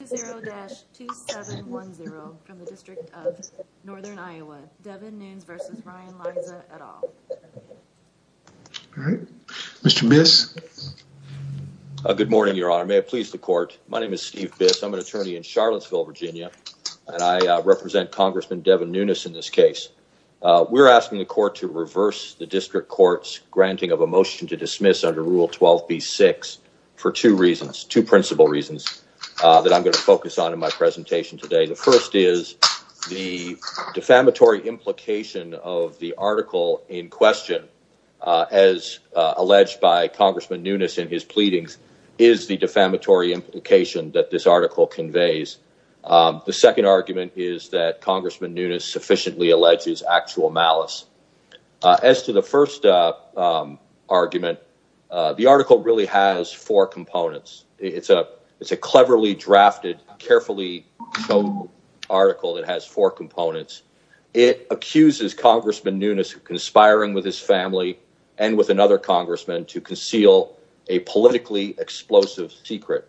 at all. All right, Mr. Biss. Good morning, Your Honor. May it please the court. My name is Steve Biss. I'm an attorney in Charlottesville, Virginia, and I represent Congressman Devin Nunes in this case. We're asking the court to reverse the district court's granting of a motion to dismiss under Rule 12b-6 for two reasons, two principal reasons that I'm going to focus on in my presentation today. The first is the defamatory implication of the article in question, as alleged by Congressman Nunes in his pleadings, is the defamatory implication that this article conveys. The second argument is that Congressman Nunes sufficiently alleges actual malice. As to the first argument, the article really has four components. It's a cleverly drafted, carefully shown article that has four components. It accuses Congressman Nunes of conspiring with his family and with another congressman to conceal a politically explosive secret.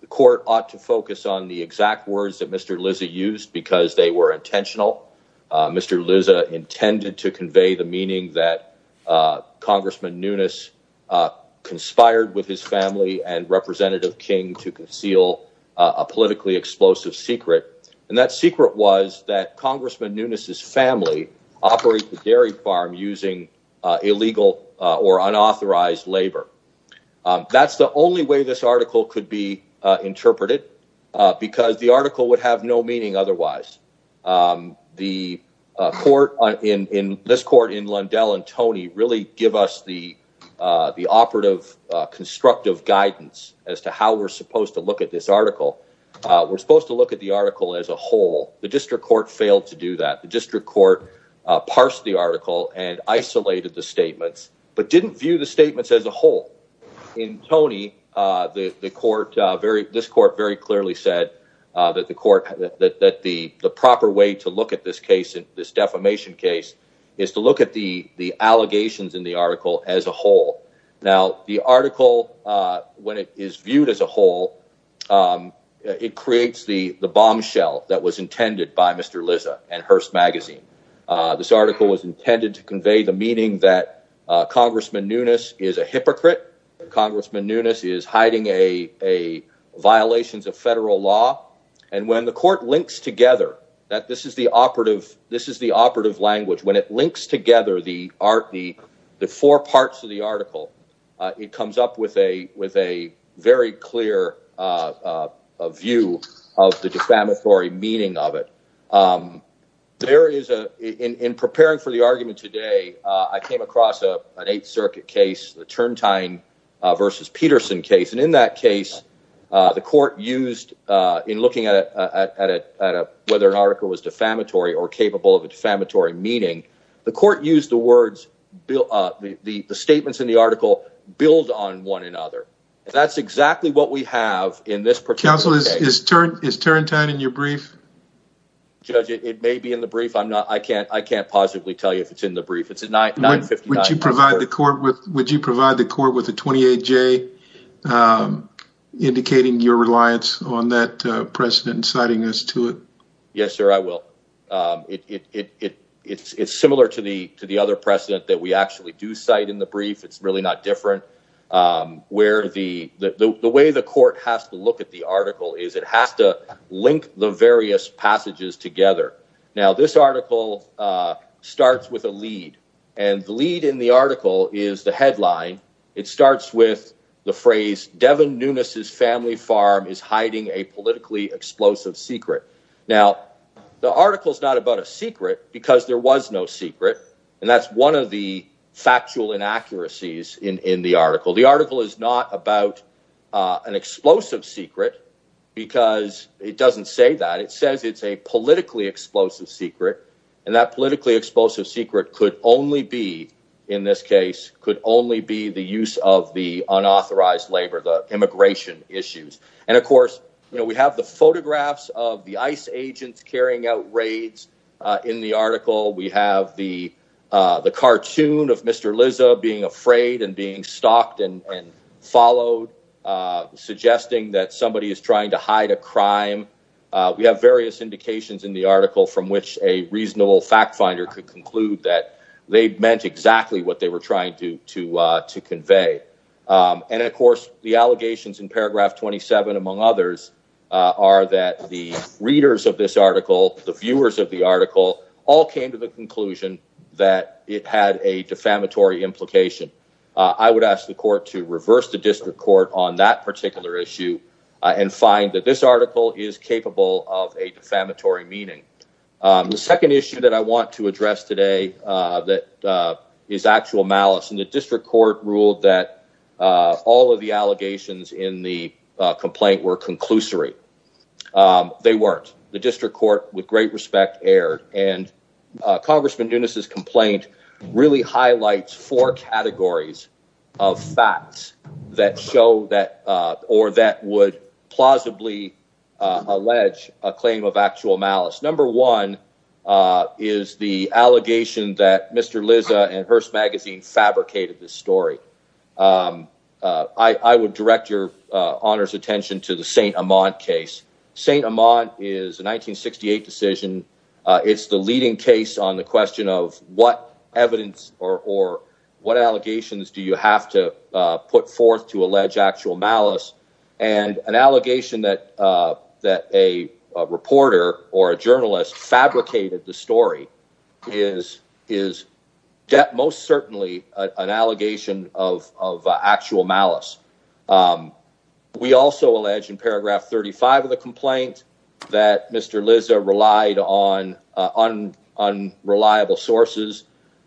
The court ought to focus on the exact words that Mr. Lizza used because they were intentional. Mr. Lizza intended to convey the meaning that Congressman Nunes conspired with his family and Representative King to conceal a politically explosive secret. And that secret was that Congressman Nunes's family operates the dairy farm using illegal or unauthorized labor. That's the only way this article could be interpreted because the article would have no meaning otherwise. The court in this court in Lundell and Toney really give us the operative, constructive guidance as to how we're supposed to look at this article. We're supposed to look at the article as a whole. The district court failed to do that. The district court parsed the article and isolated the statements, but didn't view the statements as a whole. In Toney, the court very, this court very clearly said that the court, that the proper way to look at this case, this defamation case, is to look at the allegations in the article as a whole. Now, the article, when it is viewed as a whole, it creates the bombshell that was intended by Mr. Lizza and Hearst Magazine. This article was intended to convey the meaning that Congressman Nunes is a hypocrite. Congressman Nunes is hiding a violations of federal law. And when the court links together that this is the operative, this is the operative language, when it links together the four parts of the article, it comes up with a very clear view of the defamatory meaning of it. There is a, in preparing for the argument today, I came across an Eighth Circuit case, the Turntine v. Peterson case. And in that case, the court used, in looking at whether an article was defamatory or capable of a defamatory meaning, the court used the words, the statements in the article build on one another. That's exactly what we have in this particular case. Counsel, is Turntine in your brief? Judge, it may be in the brief. I'm not, I can't, I can't positively tell you if it's in the brief. It's a 959. Would you provide the court with, would you provide the court with a 28-J indicating your reliance on that precedent and citing this to it? Yes, sir, I will. It's similar to the to the other precedent that we actually do cite in the brief. It's really not different. Where the, the way the court has to look at the article is it has to link the various passages together. Now, this article starts with a lead, and the lead in the article is the headline. It starts with the phrase Devon Nunes' family farm is hiding a politically explosive secret. Now, the article is not about a secret because there was no secret. And that's one of the factual inaccuracies in the article. The article is not about an explosive secret because it doesn't say that. It says it's a politically explosive secret. And that politically explosive secret could only be, in this case, could only be the use of the unauthorized labor, the immigration issues. And of course, you know, we have the photographs of the ICE agents carrying out raids in the article. We have the the cartoon of Mr. Lizza being afraid and being stalked and followed, suggesting that somebody is trying to hide a crime. We have various indications in the article from which a reasonable fact finder could conclude that they meant exactly what they were trying to to to convey. And of course, the allegations in paragraph 27, among others, are that the readers of this article, the viewers of the I would ask the court to reverse the district court on that particular issue and find that this article is capable of a defamatory meaning. The second issue that I want to address today that is actual malice in the district court ruled that all of the allegations in the complaint were conclusory. They weren't. The district court, with great respect, erred. And Congressman highlights four categories of facts that show that or that would plausibly allege a claim of actual malice. Number one is the allegation that Mr. Lizza and Hearst magazine fabricated this story. I would direct your honor's attention to the St. Amant case. St. Amant or what allegations do you have to put forth to allege actual malice and an allegation that that a reporter or a journalist fabricated the story is is most certainly an allegation of of actual malice. We also allege in paragraph thirty five of the complaint that Mr. Lizza relied on on unreliable sources.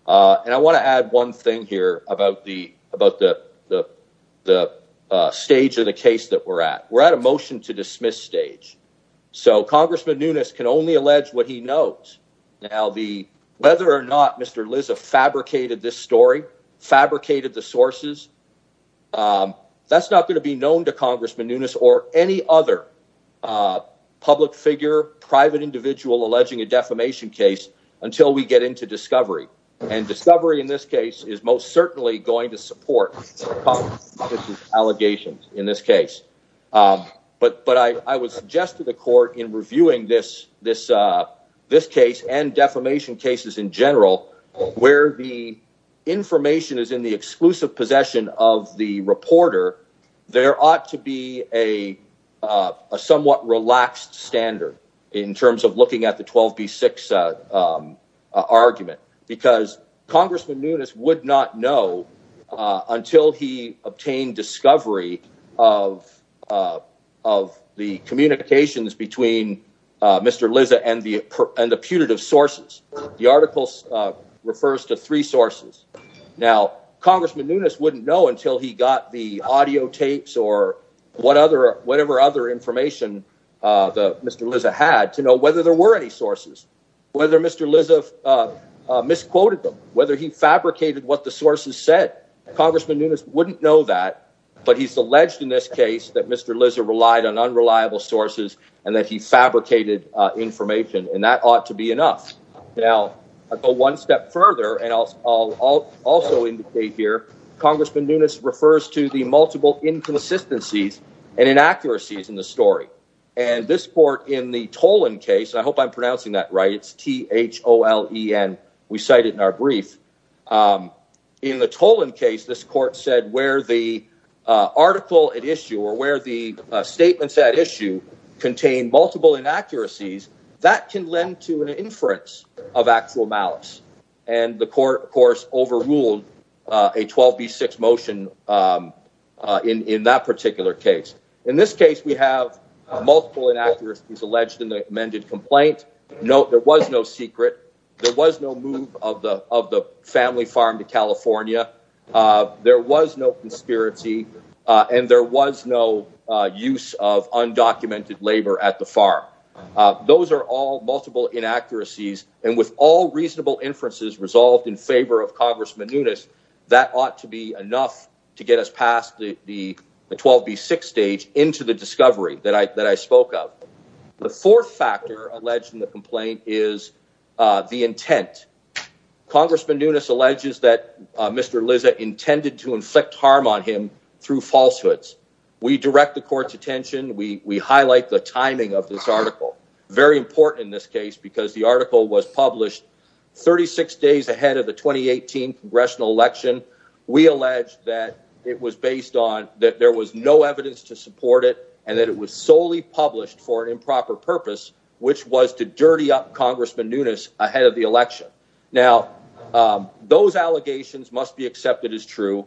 And I want to add one thing here about the about the stage of the case that we're at. We're at a motion to dismiss stage. So Congressman Nunez can only allege what he knows. Now, the whether or not Mr. Lizza fabricated this story fabricated the sources. That's not going to be known to Congressman Nunez or any other public figure, private individual alleging a defamation case until we get into discovery and discovery in this case is most certainly going to support allegations in this case. But but I would suggest to the court in reviewing this this this case and defamation cases in general where the information is in the exclusive possession of the reporter, there ought to be a somewhat relaxed standard in terms of looking at the twelve B six argument because Congressman Nunez would not know until he obtained discovery of of the communications between Mr. Lizza and the and the punitive sources. The articles refers to three sources. Now, Congressman Nunez wouldn't know until he got the audio tapes or what other whatever other information Mr. Lizza had to know whether there were any sources, whether Mr. Lizza misquoted them, whether he fabricated what the sources said. Congressman Nunez wouldn't know that. But he's alleged in this case that Mr. Lizza relied on unreliable sources and that he fabricated information. And that ought to be enough. Now, I go one step further and I'll also indicate here Congressman Nunez refers to the multiple inconsistencies and inaccuracies in the story. And this court in the Tolan case, I hope I'm pronouncing that right. It's T.H.O.L.E.N. We cite it in our brief. In the Tolan case, this court said where the article at issue or where the statements at issue contain multiple inaccuracies, that can lend to an inference of actual malice. And the court, of course, overruled a 12b6 motion in that particular case. In this case, we have multiple inaccuracies alleged in the amended complaint. No, there was no secret. There was no move of the of the family farm to California. There was no conspiracy and there was no use of undocumented labor at the farm. Those are all multiple inaccuracies. And with all reasonable inferences resolved in favor of Congressman Nunez, that ought to be enough to get us past the 12b6 stage into the discovery that I that I spoke of. The fourth factor alleged in the complaint is the intent. Congressman Nunez alleges that Mr. Lizza intended to inflict harm on him through falsehoods. We direct the court's attention. We highlight the timing of this article. Very important in this case because the article was published 36 days ahead of the 2018 congressional election. We allege that it was based on that there was no evidence to support it and that it was solely published for improper purpose, which was to dirty up Congressman Nunez ahead of the election. Now, those allegations must be accepted as true.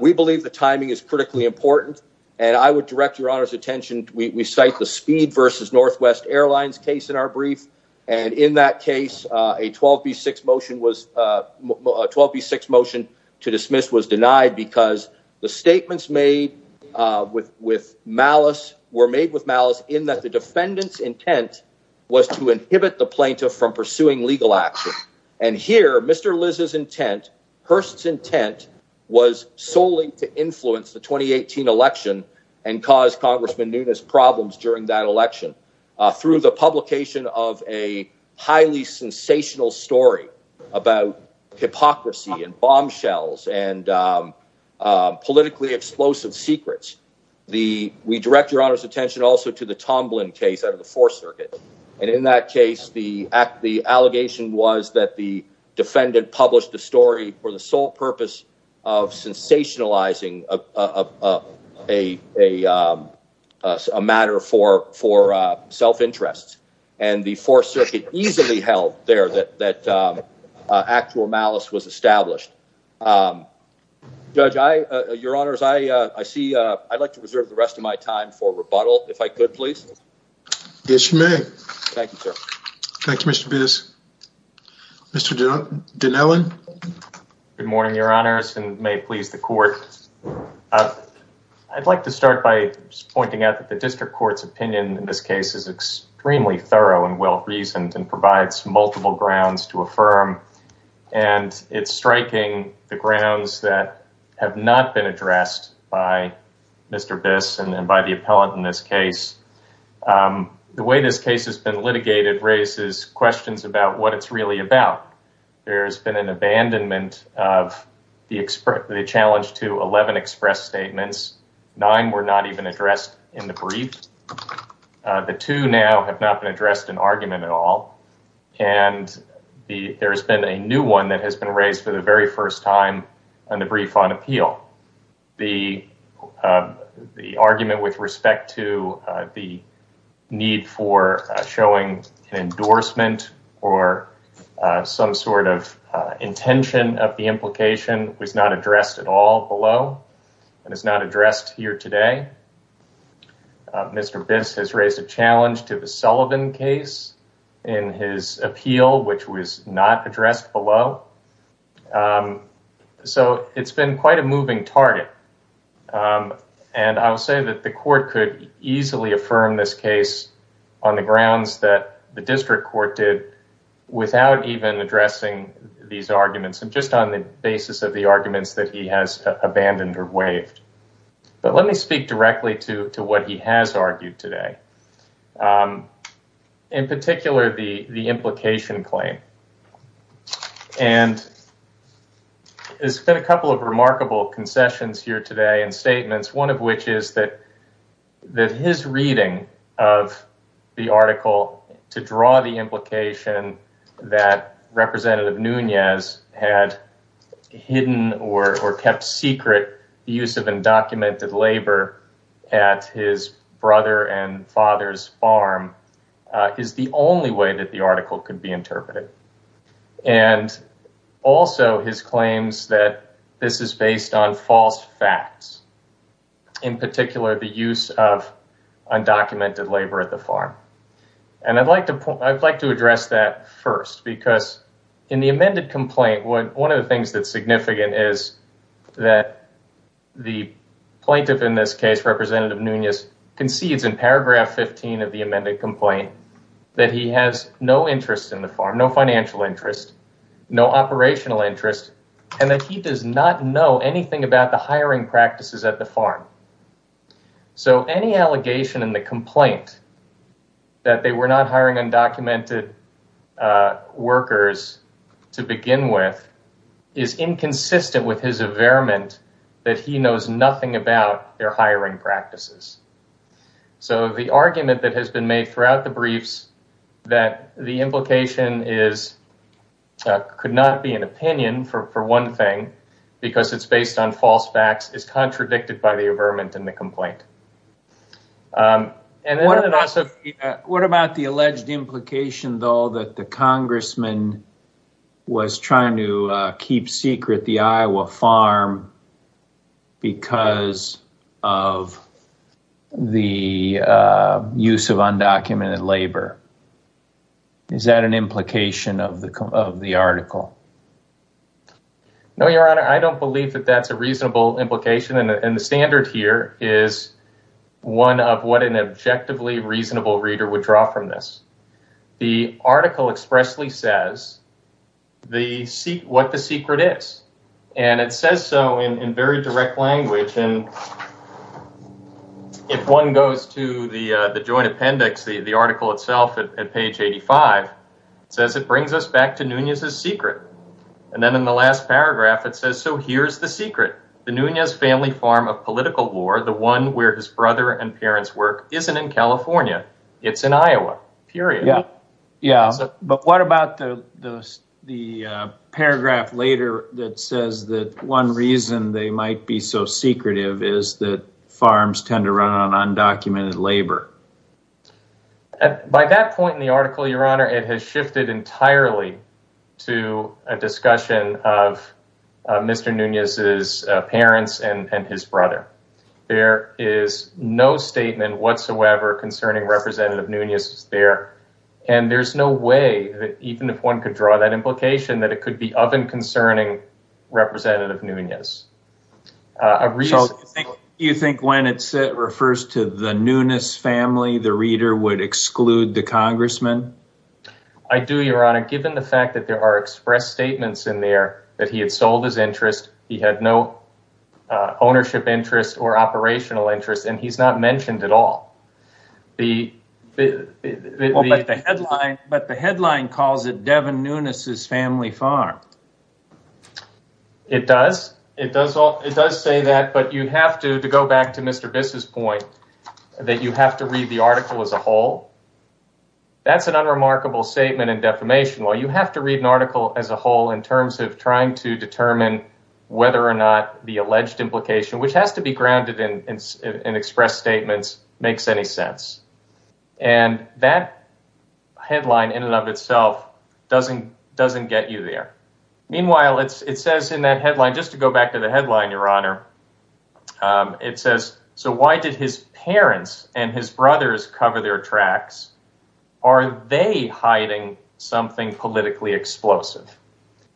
We believe the timing is critically important and I would direct your honor's attention. We cite the speed versus Northwest Airlines case in our brief. And in that case, a 12b6 motion was a 12b6 motion to dismiss was denied because the statements made with with malice were made with malice in that the defendant's intent was to inhibit the plaintiff from pursuing legal action. And here, Mr. Liz's intent, Hearst's intent was solely to influence the 2018 election and cause Congressman Nunez problems during that election through the publication of a highly sensational story about hypocrisy and bombshells and politically explosive secrets. The we direct your honor's attention also to the Tomlin case out of the was that the defendant published the story for the sole purpose of sensationalizing a matter for for self-interest and the Fourth Circuit easily held there that that actual malice was established. Judge, I your honors, I see I'd like to reserve the rest of my time for rebuttal if I could please. Yes, you may. Thank you, sir. Thank you, Mr. Biss. Mr. Dinellen. Good morning, your honors, and may it please the court. I'd like to start by just pointing out that the district court's opinion in this case is extremely thorough and well-reasoned and provides multiple grounds to affirm. And it's striking the grounds that have not been addressed by Mr. Biss and by the appellant in this case. The way this case has been litigated raises questions about what it's really about. There's been an abandonment of the challenge to 11 express statements. Nine were not even addressed in the brief. The two now have not been addressed in argument at all. And there's been a new one that has been raised for the very first time in the brief on appeal. The argument with respect to the need for showing an endorsement or some sort of intention of the implication was not addressed at all below and is not addressed here today. Mr. Biss has raised a challenge to the Sullivan case in his appeal, which was not been quite a moving target. And I would say that the court could easily affirm this case on the grounds that the district court did without even addressing these arguments and just on the basis of the arguments that he has abandoned or waived. But let me speak directly to what he has remarked. There's a couple of remarkable concessions here today and statements, one of which is that his reading of the article to draw the implication that representative Nunez had hidden or kept secret the use of undocumented labor at his brother and father's farm is the only way that article could be interpreted. And also his claims that this is based on false facts. In particular, the use of undocumented labor at the farm. And I'd like to address that first because in the amended complaint, one of the things that's significant is that the plaintiff in this case, representative Nunez, concedes in paragraph 15 of the amended complaint that he has no interest in the farm, no financial interest, no operational interest, and that he does not know anything about the hiring practices at the farm. So any allegation in the complaint that they were not hiring undocumented workers to begin with is inconsistent with his averment that he knows nothing about their hiring practices. So the argument that has been made throughout the briefs that the implication could not be an opinion for one thing because it's based on false facts is contradicted by the averment in the complaint. What about the alleged implication, though, that the congressman was trying to keep secret the the use of undocumented labor? Is that an implication of the article? No, your honor, I don't believe that that's a reasonable implication and the standard here is one of what an objectively reasonable reader would draw from this. The article expressly says what the secret is and it says so in very direct language and if one goes to the joint appendix, the article itself at page 85, it says it brings us back to Nunez's secret and then in the last paragraph it says, so here's the secret. The Nunez family farm of political war, the one where his brother and parents work, isn't in California. It's in Iowa, period. But what about the paragraph later that says that one reason they might be so secretive is that farms tend to run on undocumented labor? By that point in the article, your honor, it has shifted entirely to a discussion of Mr. Nunez's parents and his brother. There is no statement whatsoever concerning representative Nunez there and there's no way that even if one could draw that implication that it could be of and concerning representative Nunez. Do you think when it refers to the Nunez family, the reader would exclude the congressman? I do, your honor, given the fact that there are express statements in there that he had sold his interest, he had no ownership interest or operational interest, and he's not mentioned at all. But the headline calls it Devin Nunez's family farm. It does. It does say that, but you have to, to go back to Mr. Biss's point, that you have to read the article as a whole. That's an unremarkable statement and defamation. Well, you have to read an article as a whole in terms of trying to determine whether or not the alleged implication, which has to be grounded in express statements, makes any sense. And that headline in and of itself doesn't get you there. Meanwhile, it says in that headline, just to go back to the headline, your honor, it says, so why did his parents and his brothers cover their tracks? Are they hiding something politically explosive?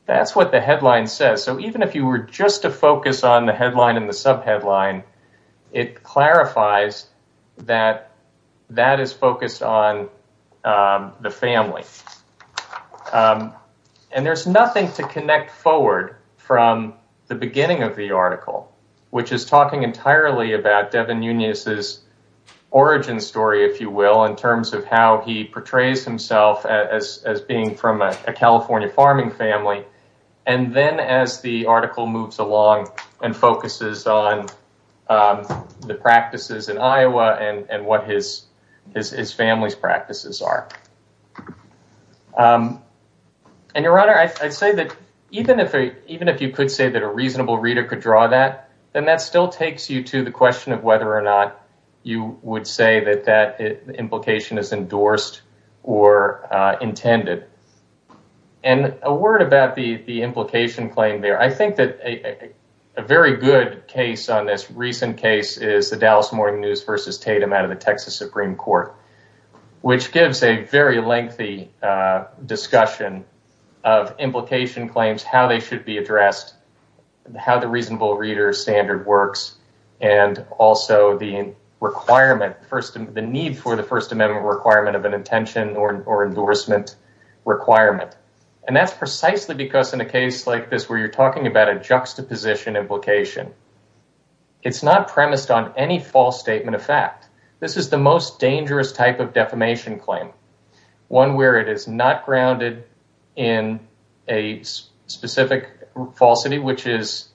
That's what the headline says. So even if you were just to focus on the headline and the sub headline, it clarifies that that is focused on the family. And there's nothing to connect forward from the beginning of the article, which is talking entirely about Devin Nunez's origin story, if you will, in terms of he portrays himself as being from a California farming family. And then as the article moves along and focuses on the practices in Iowa and what his family's practices are. And your honor, I'd say that even if you could say that a reasonable reader could draw that, then that still takes you to the question of whether or not you would say that that implication is endorsed or intended. And a word about the implication claim there. I think that a very good case on this recent case is the Dallas Morning News versus Tatum out of the Texas Supreme Court, which gives a very lengthy discussion of implication claims, how they should be addressed, how the reasonable reader standard works, and also the requirement, the need for the First Amendment requirement of an intention or endorsement requirement. And that's precisely because in a case like this where you're talking about a juxtaposition implication, it's not premised on any false statement of fact. This is the most dangerous type of defamation claim. One where it is not grounded in a specific falsity, which is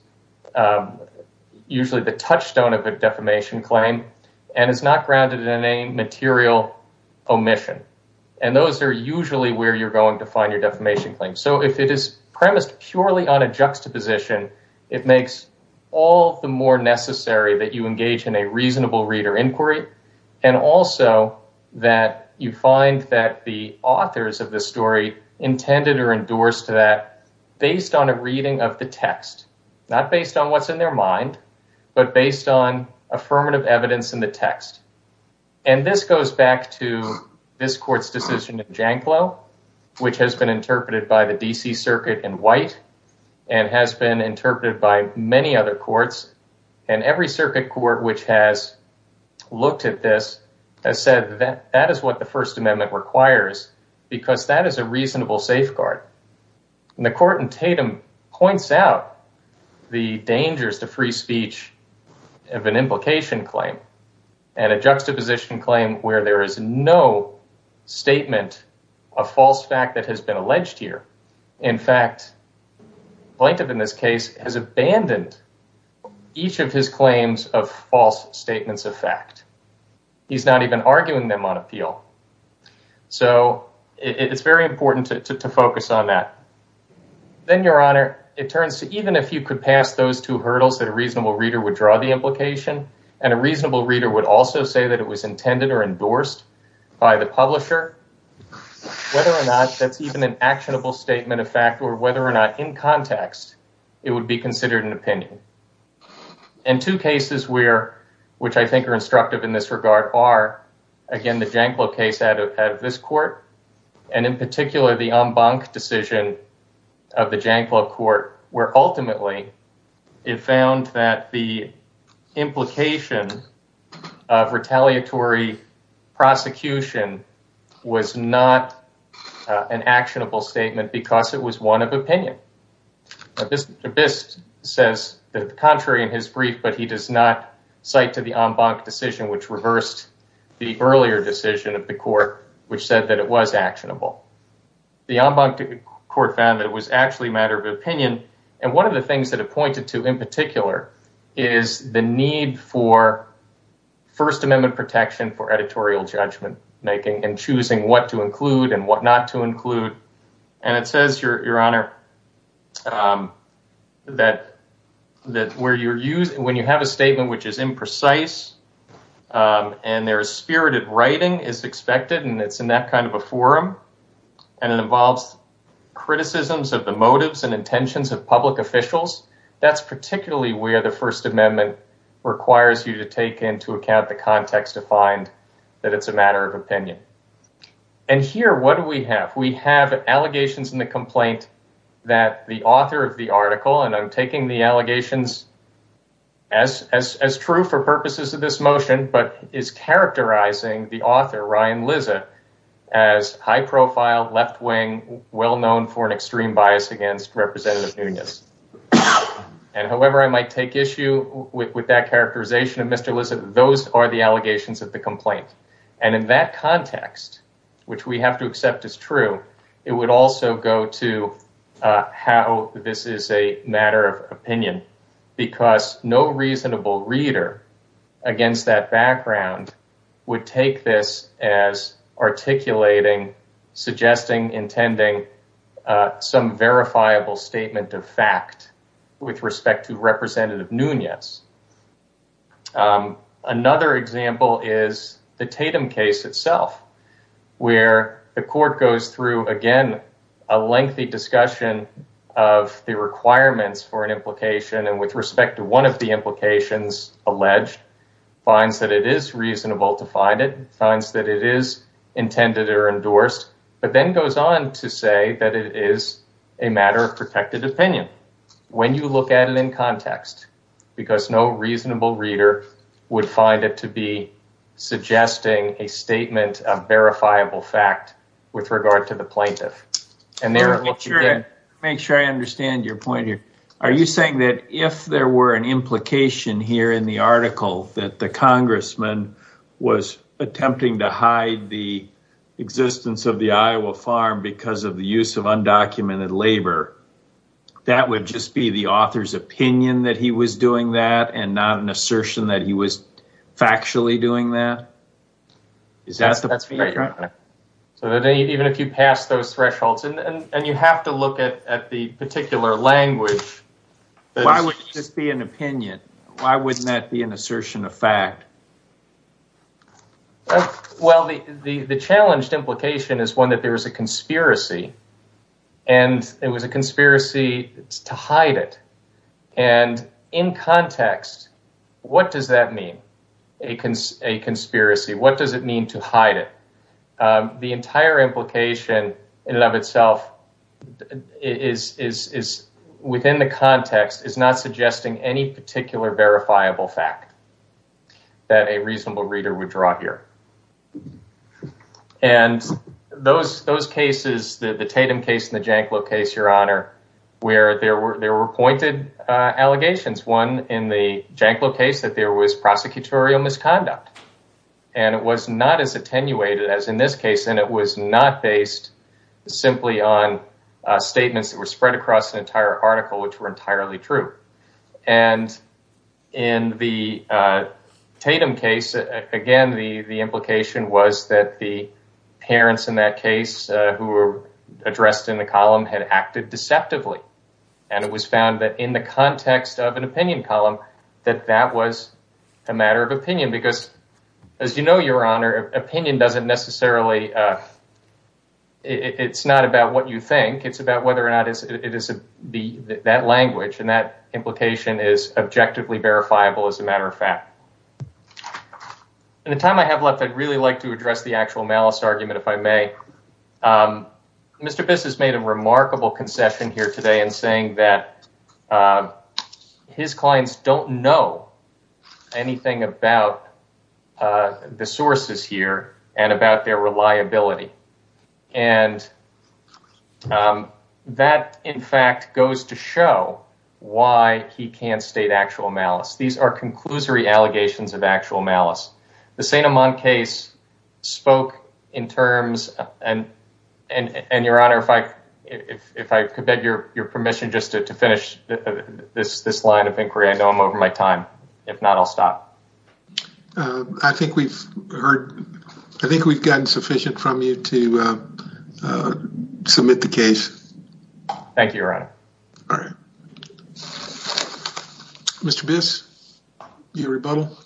usually the touchstone of a defamation claim, and is not grounded in a material omission. And those are usually where you're going to find your defamation claim. So if it is premised purely on a juxtaposition, it makes all the more that the authors of the story intended or endorsed that based on a reading of the text, not based on what's in their mind, but based on affirmative evidence in the text. And this goes back to this court's decision in Janclow, which has been interpreted by the D.C. Circuit in white, and has been interpreted by many other courts. And every circuit court which has looked at this has said that that is what the First Amendment requires, because that is a reasonable safeguard. And the court in Tatum points out the dangers to free speech of an implication claim and a juxtaposition claim where there is no statement of false fact that has been statements of fact. He's not even arguing them on appeal. So it's very important to focus on that. Then, Your Honor, it turns to even if you could pass those two hurdles that a reasonable reader would draw the implication, and a reasonable reader would also say that it was intended or endorsed by the publisher, whether or not that's even an actionable statement of fact or whether or not in context it would be considered an opinion. And two cases which I think are instructive in this regard are, again, the Janclow case out of this court, and in particular the Embank decision of the Janclow court, where ultimately it found that the implication of retaliatory prosecution was not an actionable statement because it was one of opinion. This says the contrary in his brief, but he does not cite to the Embank decision, which reversed the earlier decision of the court, which said that it was actionable. The Embank court found that it was actually a matter of opinion. And one of the things that it pointed to in particular is the need for First Amendment protection for editorial judgment making and choosing what to include and what not to include. And it says, Your Honor, that when you have a statement which is imprecise and there is spirited writing is expected, and it's in that kind of a forum, and it involves criticisms of the motives and intentions of public officials, that's particularly where the First Amendment requires you to take into account the context to find that it's a matter of opinion. And here, what do we have? We have allegations in the complaint that the author of the article, and I'm taking the allegations as true for purposes of this motion, but is characterizing the author, Ryan Lizza, as high profile, left-wing, well-known for an extreme bias against Representative Nunes. And however I might take issue with that characterization of Mr. Lizza, those are the allegations of the complaint. And in that context, which we have to accept as true, it would also go to how this is a matter of opinion, because no reasonable reader against that background would take this as articulating, suggesting, intending some verifiable statement of fact with respect to Representative Nunes. Another example is the Tatum case itself, where the court goes through, again, a lengthy discussion of the requirements for an implication, and with respect to one of the implications alleged, finds that it is reasonable to find it, finds that it is intended or endorsed, but then goes on to say that it is a matter of protected opinion, when you look at it in context, because no reasonable reader would find it to be suggesting a statement of verifiable fact with regard to the plaintiff. And there... Make sure I understand your point here. Are you saying that if there were an implication here in the article that the congressman was attempting to hide the existence of the Iowa farm because of the use of undocumented labor, that would just be the author's opinion that he was doing that, and not an assertion that he was factually doing that? Is that... Even if you pass those thresholds, and you have to look at the particular language... Why would it just be an opinion? Why wouldn't that be an assertion of fact? Well, the challenged implication is one that there was a conspiracy, and it was a conspiracy to hide it. And in context, what does that mean, a conspiracy? What does it mean to hide it? The entire implication, in and of itself, within the context, is not suggesting any particular verifiable fact. That a reasonable reader would draw here. And those cases, the Tatum case and the Janklow case, your honor, where there were pointed allegations, one in the Janklow case that there was prosecutorial misconduct. And it was not as attenuated as in this case, and it was not based simply on statements that entire article, which were entirely true. And in the Tatum case, again, the implication was that the parents in that case who were addressed in the column had acted deceptively. And it was found that in the context of an opinion column, that that was a matter of opinion. Because as you know, your honor, opinion doesn't necessarily... It's not about what you think, it's about whether or not that language and that implication is objectively verifiable as a matter of fact. In the time I have left, I'd really like to address the actual malice argument, if I may. Mr. Biss has made a remarkable concession here today in saying that his clients don't know anything about the sources here and about their reliability. And that, in fact, goes to show why he can't state actual malice. These are conclusory allegations of actual malice. The St. Amand case spoke in terms... And your honor, if I could beg your permission just to finish this line of inquiry, I know I'm over my time. If not, I'll stop. I think we've heard... I think we've gotten sufficient from you to submit the case. Thank you, your honor. All right. Mr. Biss, your rebuttal.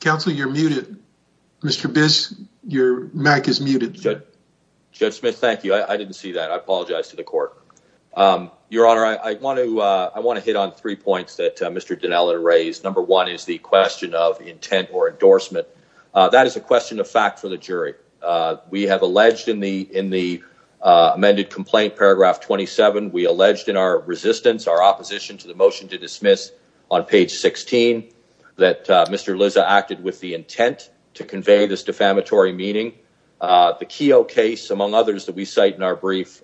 Counsel, you're muted. Mr. Biss, your mic is muted. Judge Smith, thank you. I didn't see that. I apologize to the court. Your honor, I want to hit on three points that Mr. Dinella raised. Number one is the question of intent or endorsement. That is a question of fact for the jury. We have alleged in the amended complaint, paragraph 27, we alleged in our resistance, our opposition to the motion to dismiss on page 16 that Mr. Lizza acted with the intent to convey this defamatory meaning. The Keogh case, among others that we cite in our brief,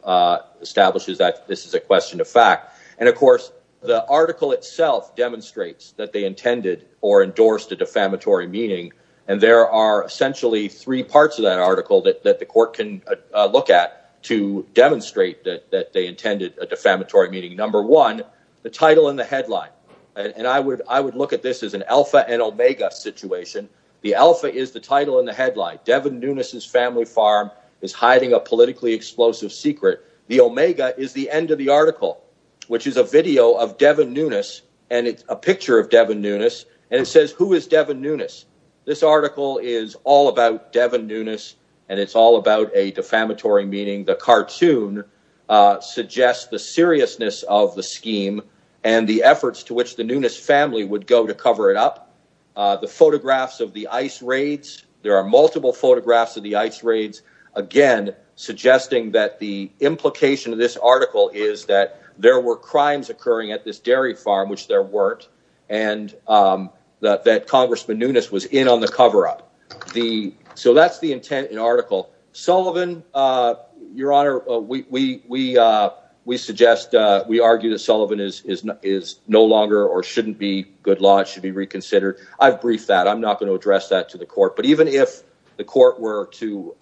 establishes that this is a question of fact. And, of course, the article itself demonstrates that they intended or endorsed a defamatory meaning. And there are essentially three parts of that article that the court can look at to demonstrate that they intended a defamatory meaning. Number one, the title and the headline. And I would look at this as an alpha and omega situation. The alpha is the title and the headline. Devin Nunes' family farm is hiding a politically explosive secret. The omega is the end of the article, which is a video of Devin Nunes, and it's a picture of Devin Nunes, and it says, who is Devin Nunes? This article is all about Devin Nunes, and it's all about a defamatory meaning. The cartoon suggests the seriousness of the scheme and the efforts to which the Nunes family would go to cover it up. The photographs of the ice raids, there are multiple photographs of the ice raids, again, suggesting that the implication of this article is that there were crimes occurring at this dairy farm, which there weren't, and that Congressman Nunes was in on the cover-up. So that's the intent of the article. Sullivan, Your Honor, we suggest, we argue that Sullivan is no longer or shouldn't be good law. It should be reconsidered. I've briefed that. I'm not going to address that to the court. But even if the court were to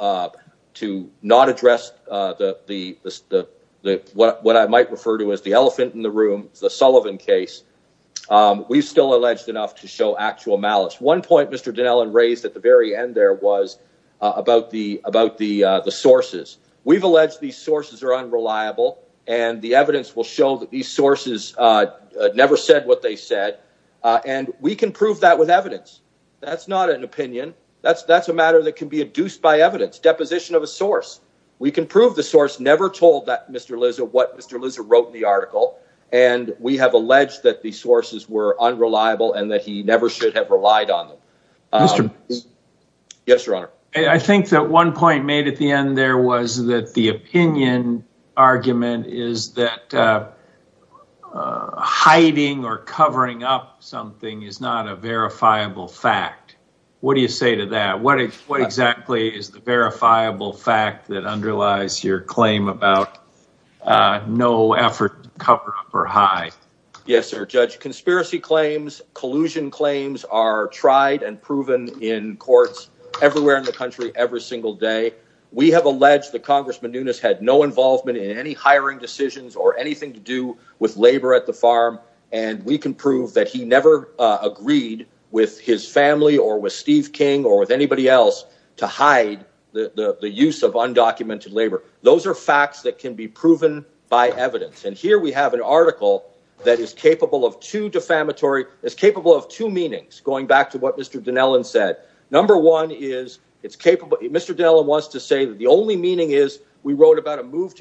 not address what I might refer to as the elephant in the room, the Sullivan case, we've still alleged enough to show actual malice. One point Mr. Dinellon raised at the very end there was about the sources. We've alleged these sources are unreliable, and the evidence will show that these sources never said what they said, and we can prove that with evidence. That's not an opinion. That's a matter that can be adduced by evidence, deposition of a source. We can prove the source never told Mr. Lizzo what Mr. Lizzo wrote in the article, and we have alleged that the sources were unreliable and that he never should have relied on them. Yes, Your Honor. I think that one point made at the end there was that the opinion argument is that hiding or covering up something is not a verifiable fact. What do you say to that? What exactly is the verifiable fact that underlies your claim about no effort to cover up or hide? Yes, sir. Judge, conspiracy claims, collusion claims are tried and proven in courts everywhere in the country every single day. We have alleged that Congressman Nunes had no involvement in any hiring decisions or anything to do with labor at the farm, and we can prove that he never agreed with his family or with undocumented labor. Those are facts that can be proven by evidence, and here we have an article that is capable of two defamatory, is capable of two meanings, going back to what Mr. Dinellan said. Number one is it's capable, Mr. Dinellan wants to say that the only meaning is we wrote about a move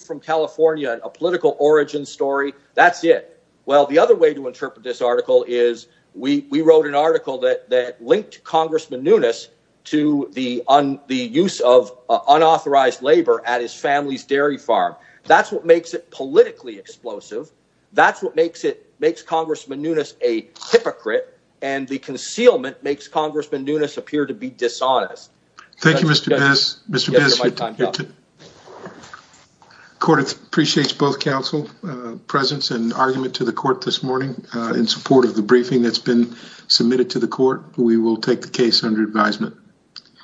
from California and a political origin story. That's it. Well, the other way to interpret this article is we wrote an article that linked Congressman Nunes to the use of unauthorized labor at his family's dairy farm. That's what makes it politically explosive. That's what makes it makes Congressman Nunes a hypocrite, and the concealment makes Congressman Nunes appear to be dishonest. Thank you, Mr. Bizz. Mr. Bizz, court appreciates both counsel's presence and argument to the court this morning in support of the briefing that's been submitted to the court. We will take the case under advisement.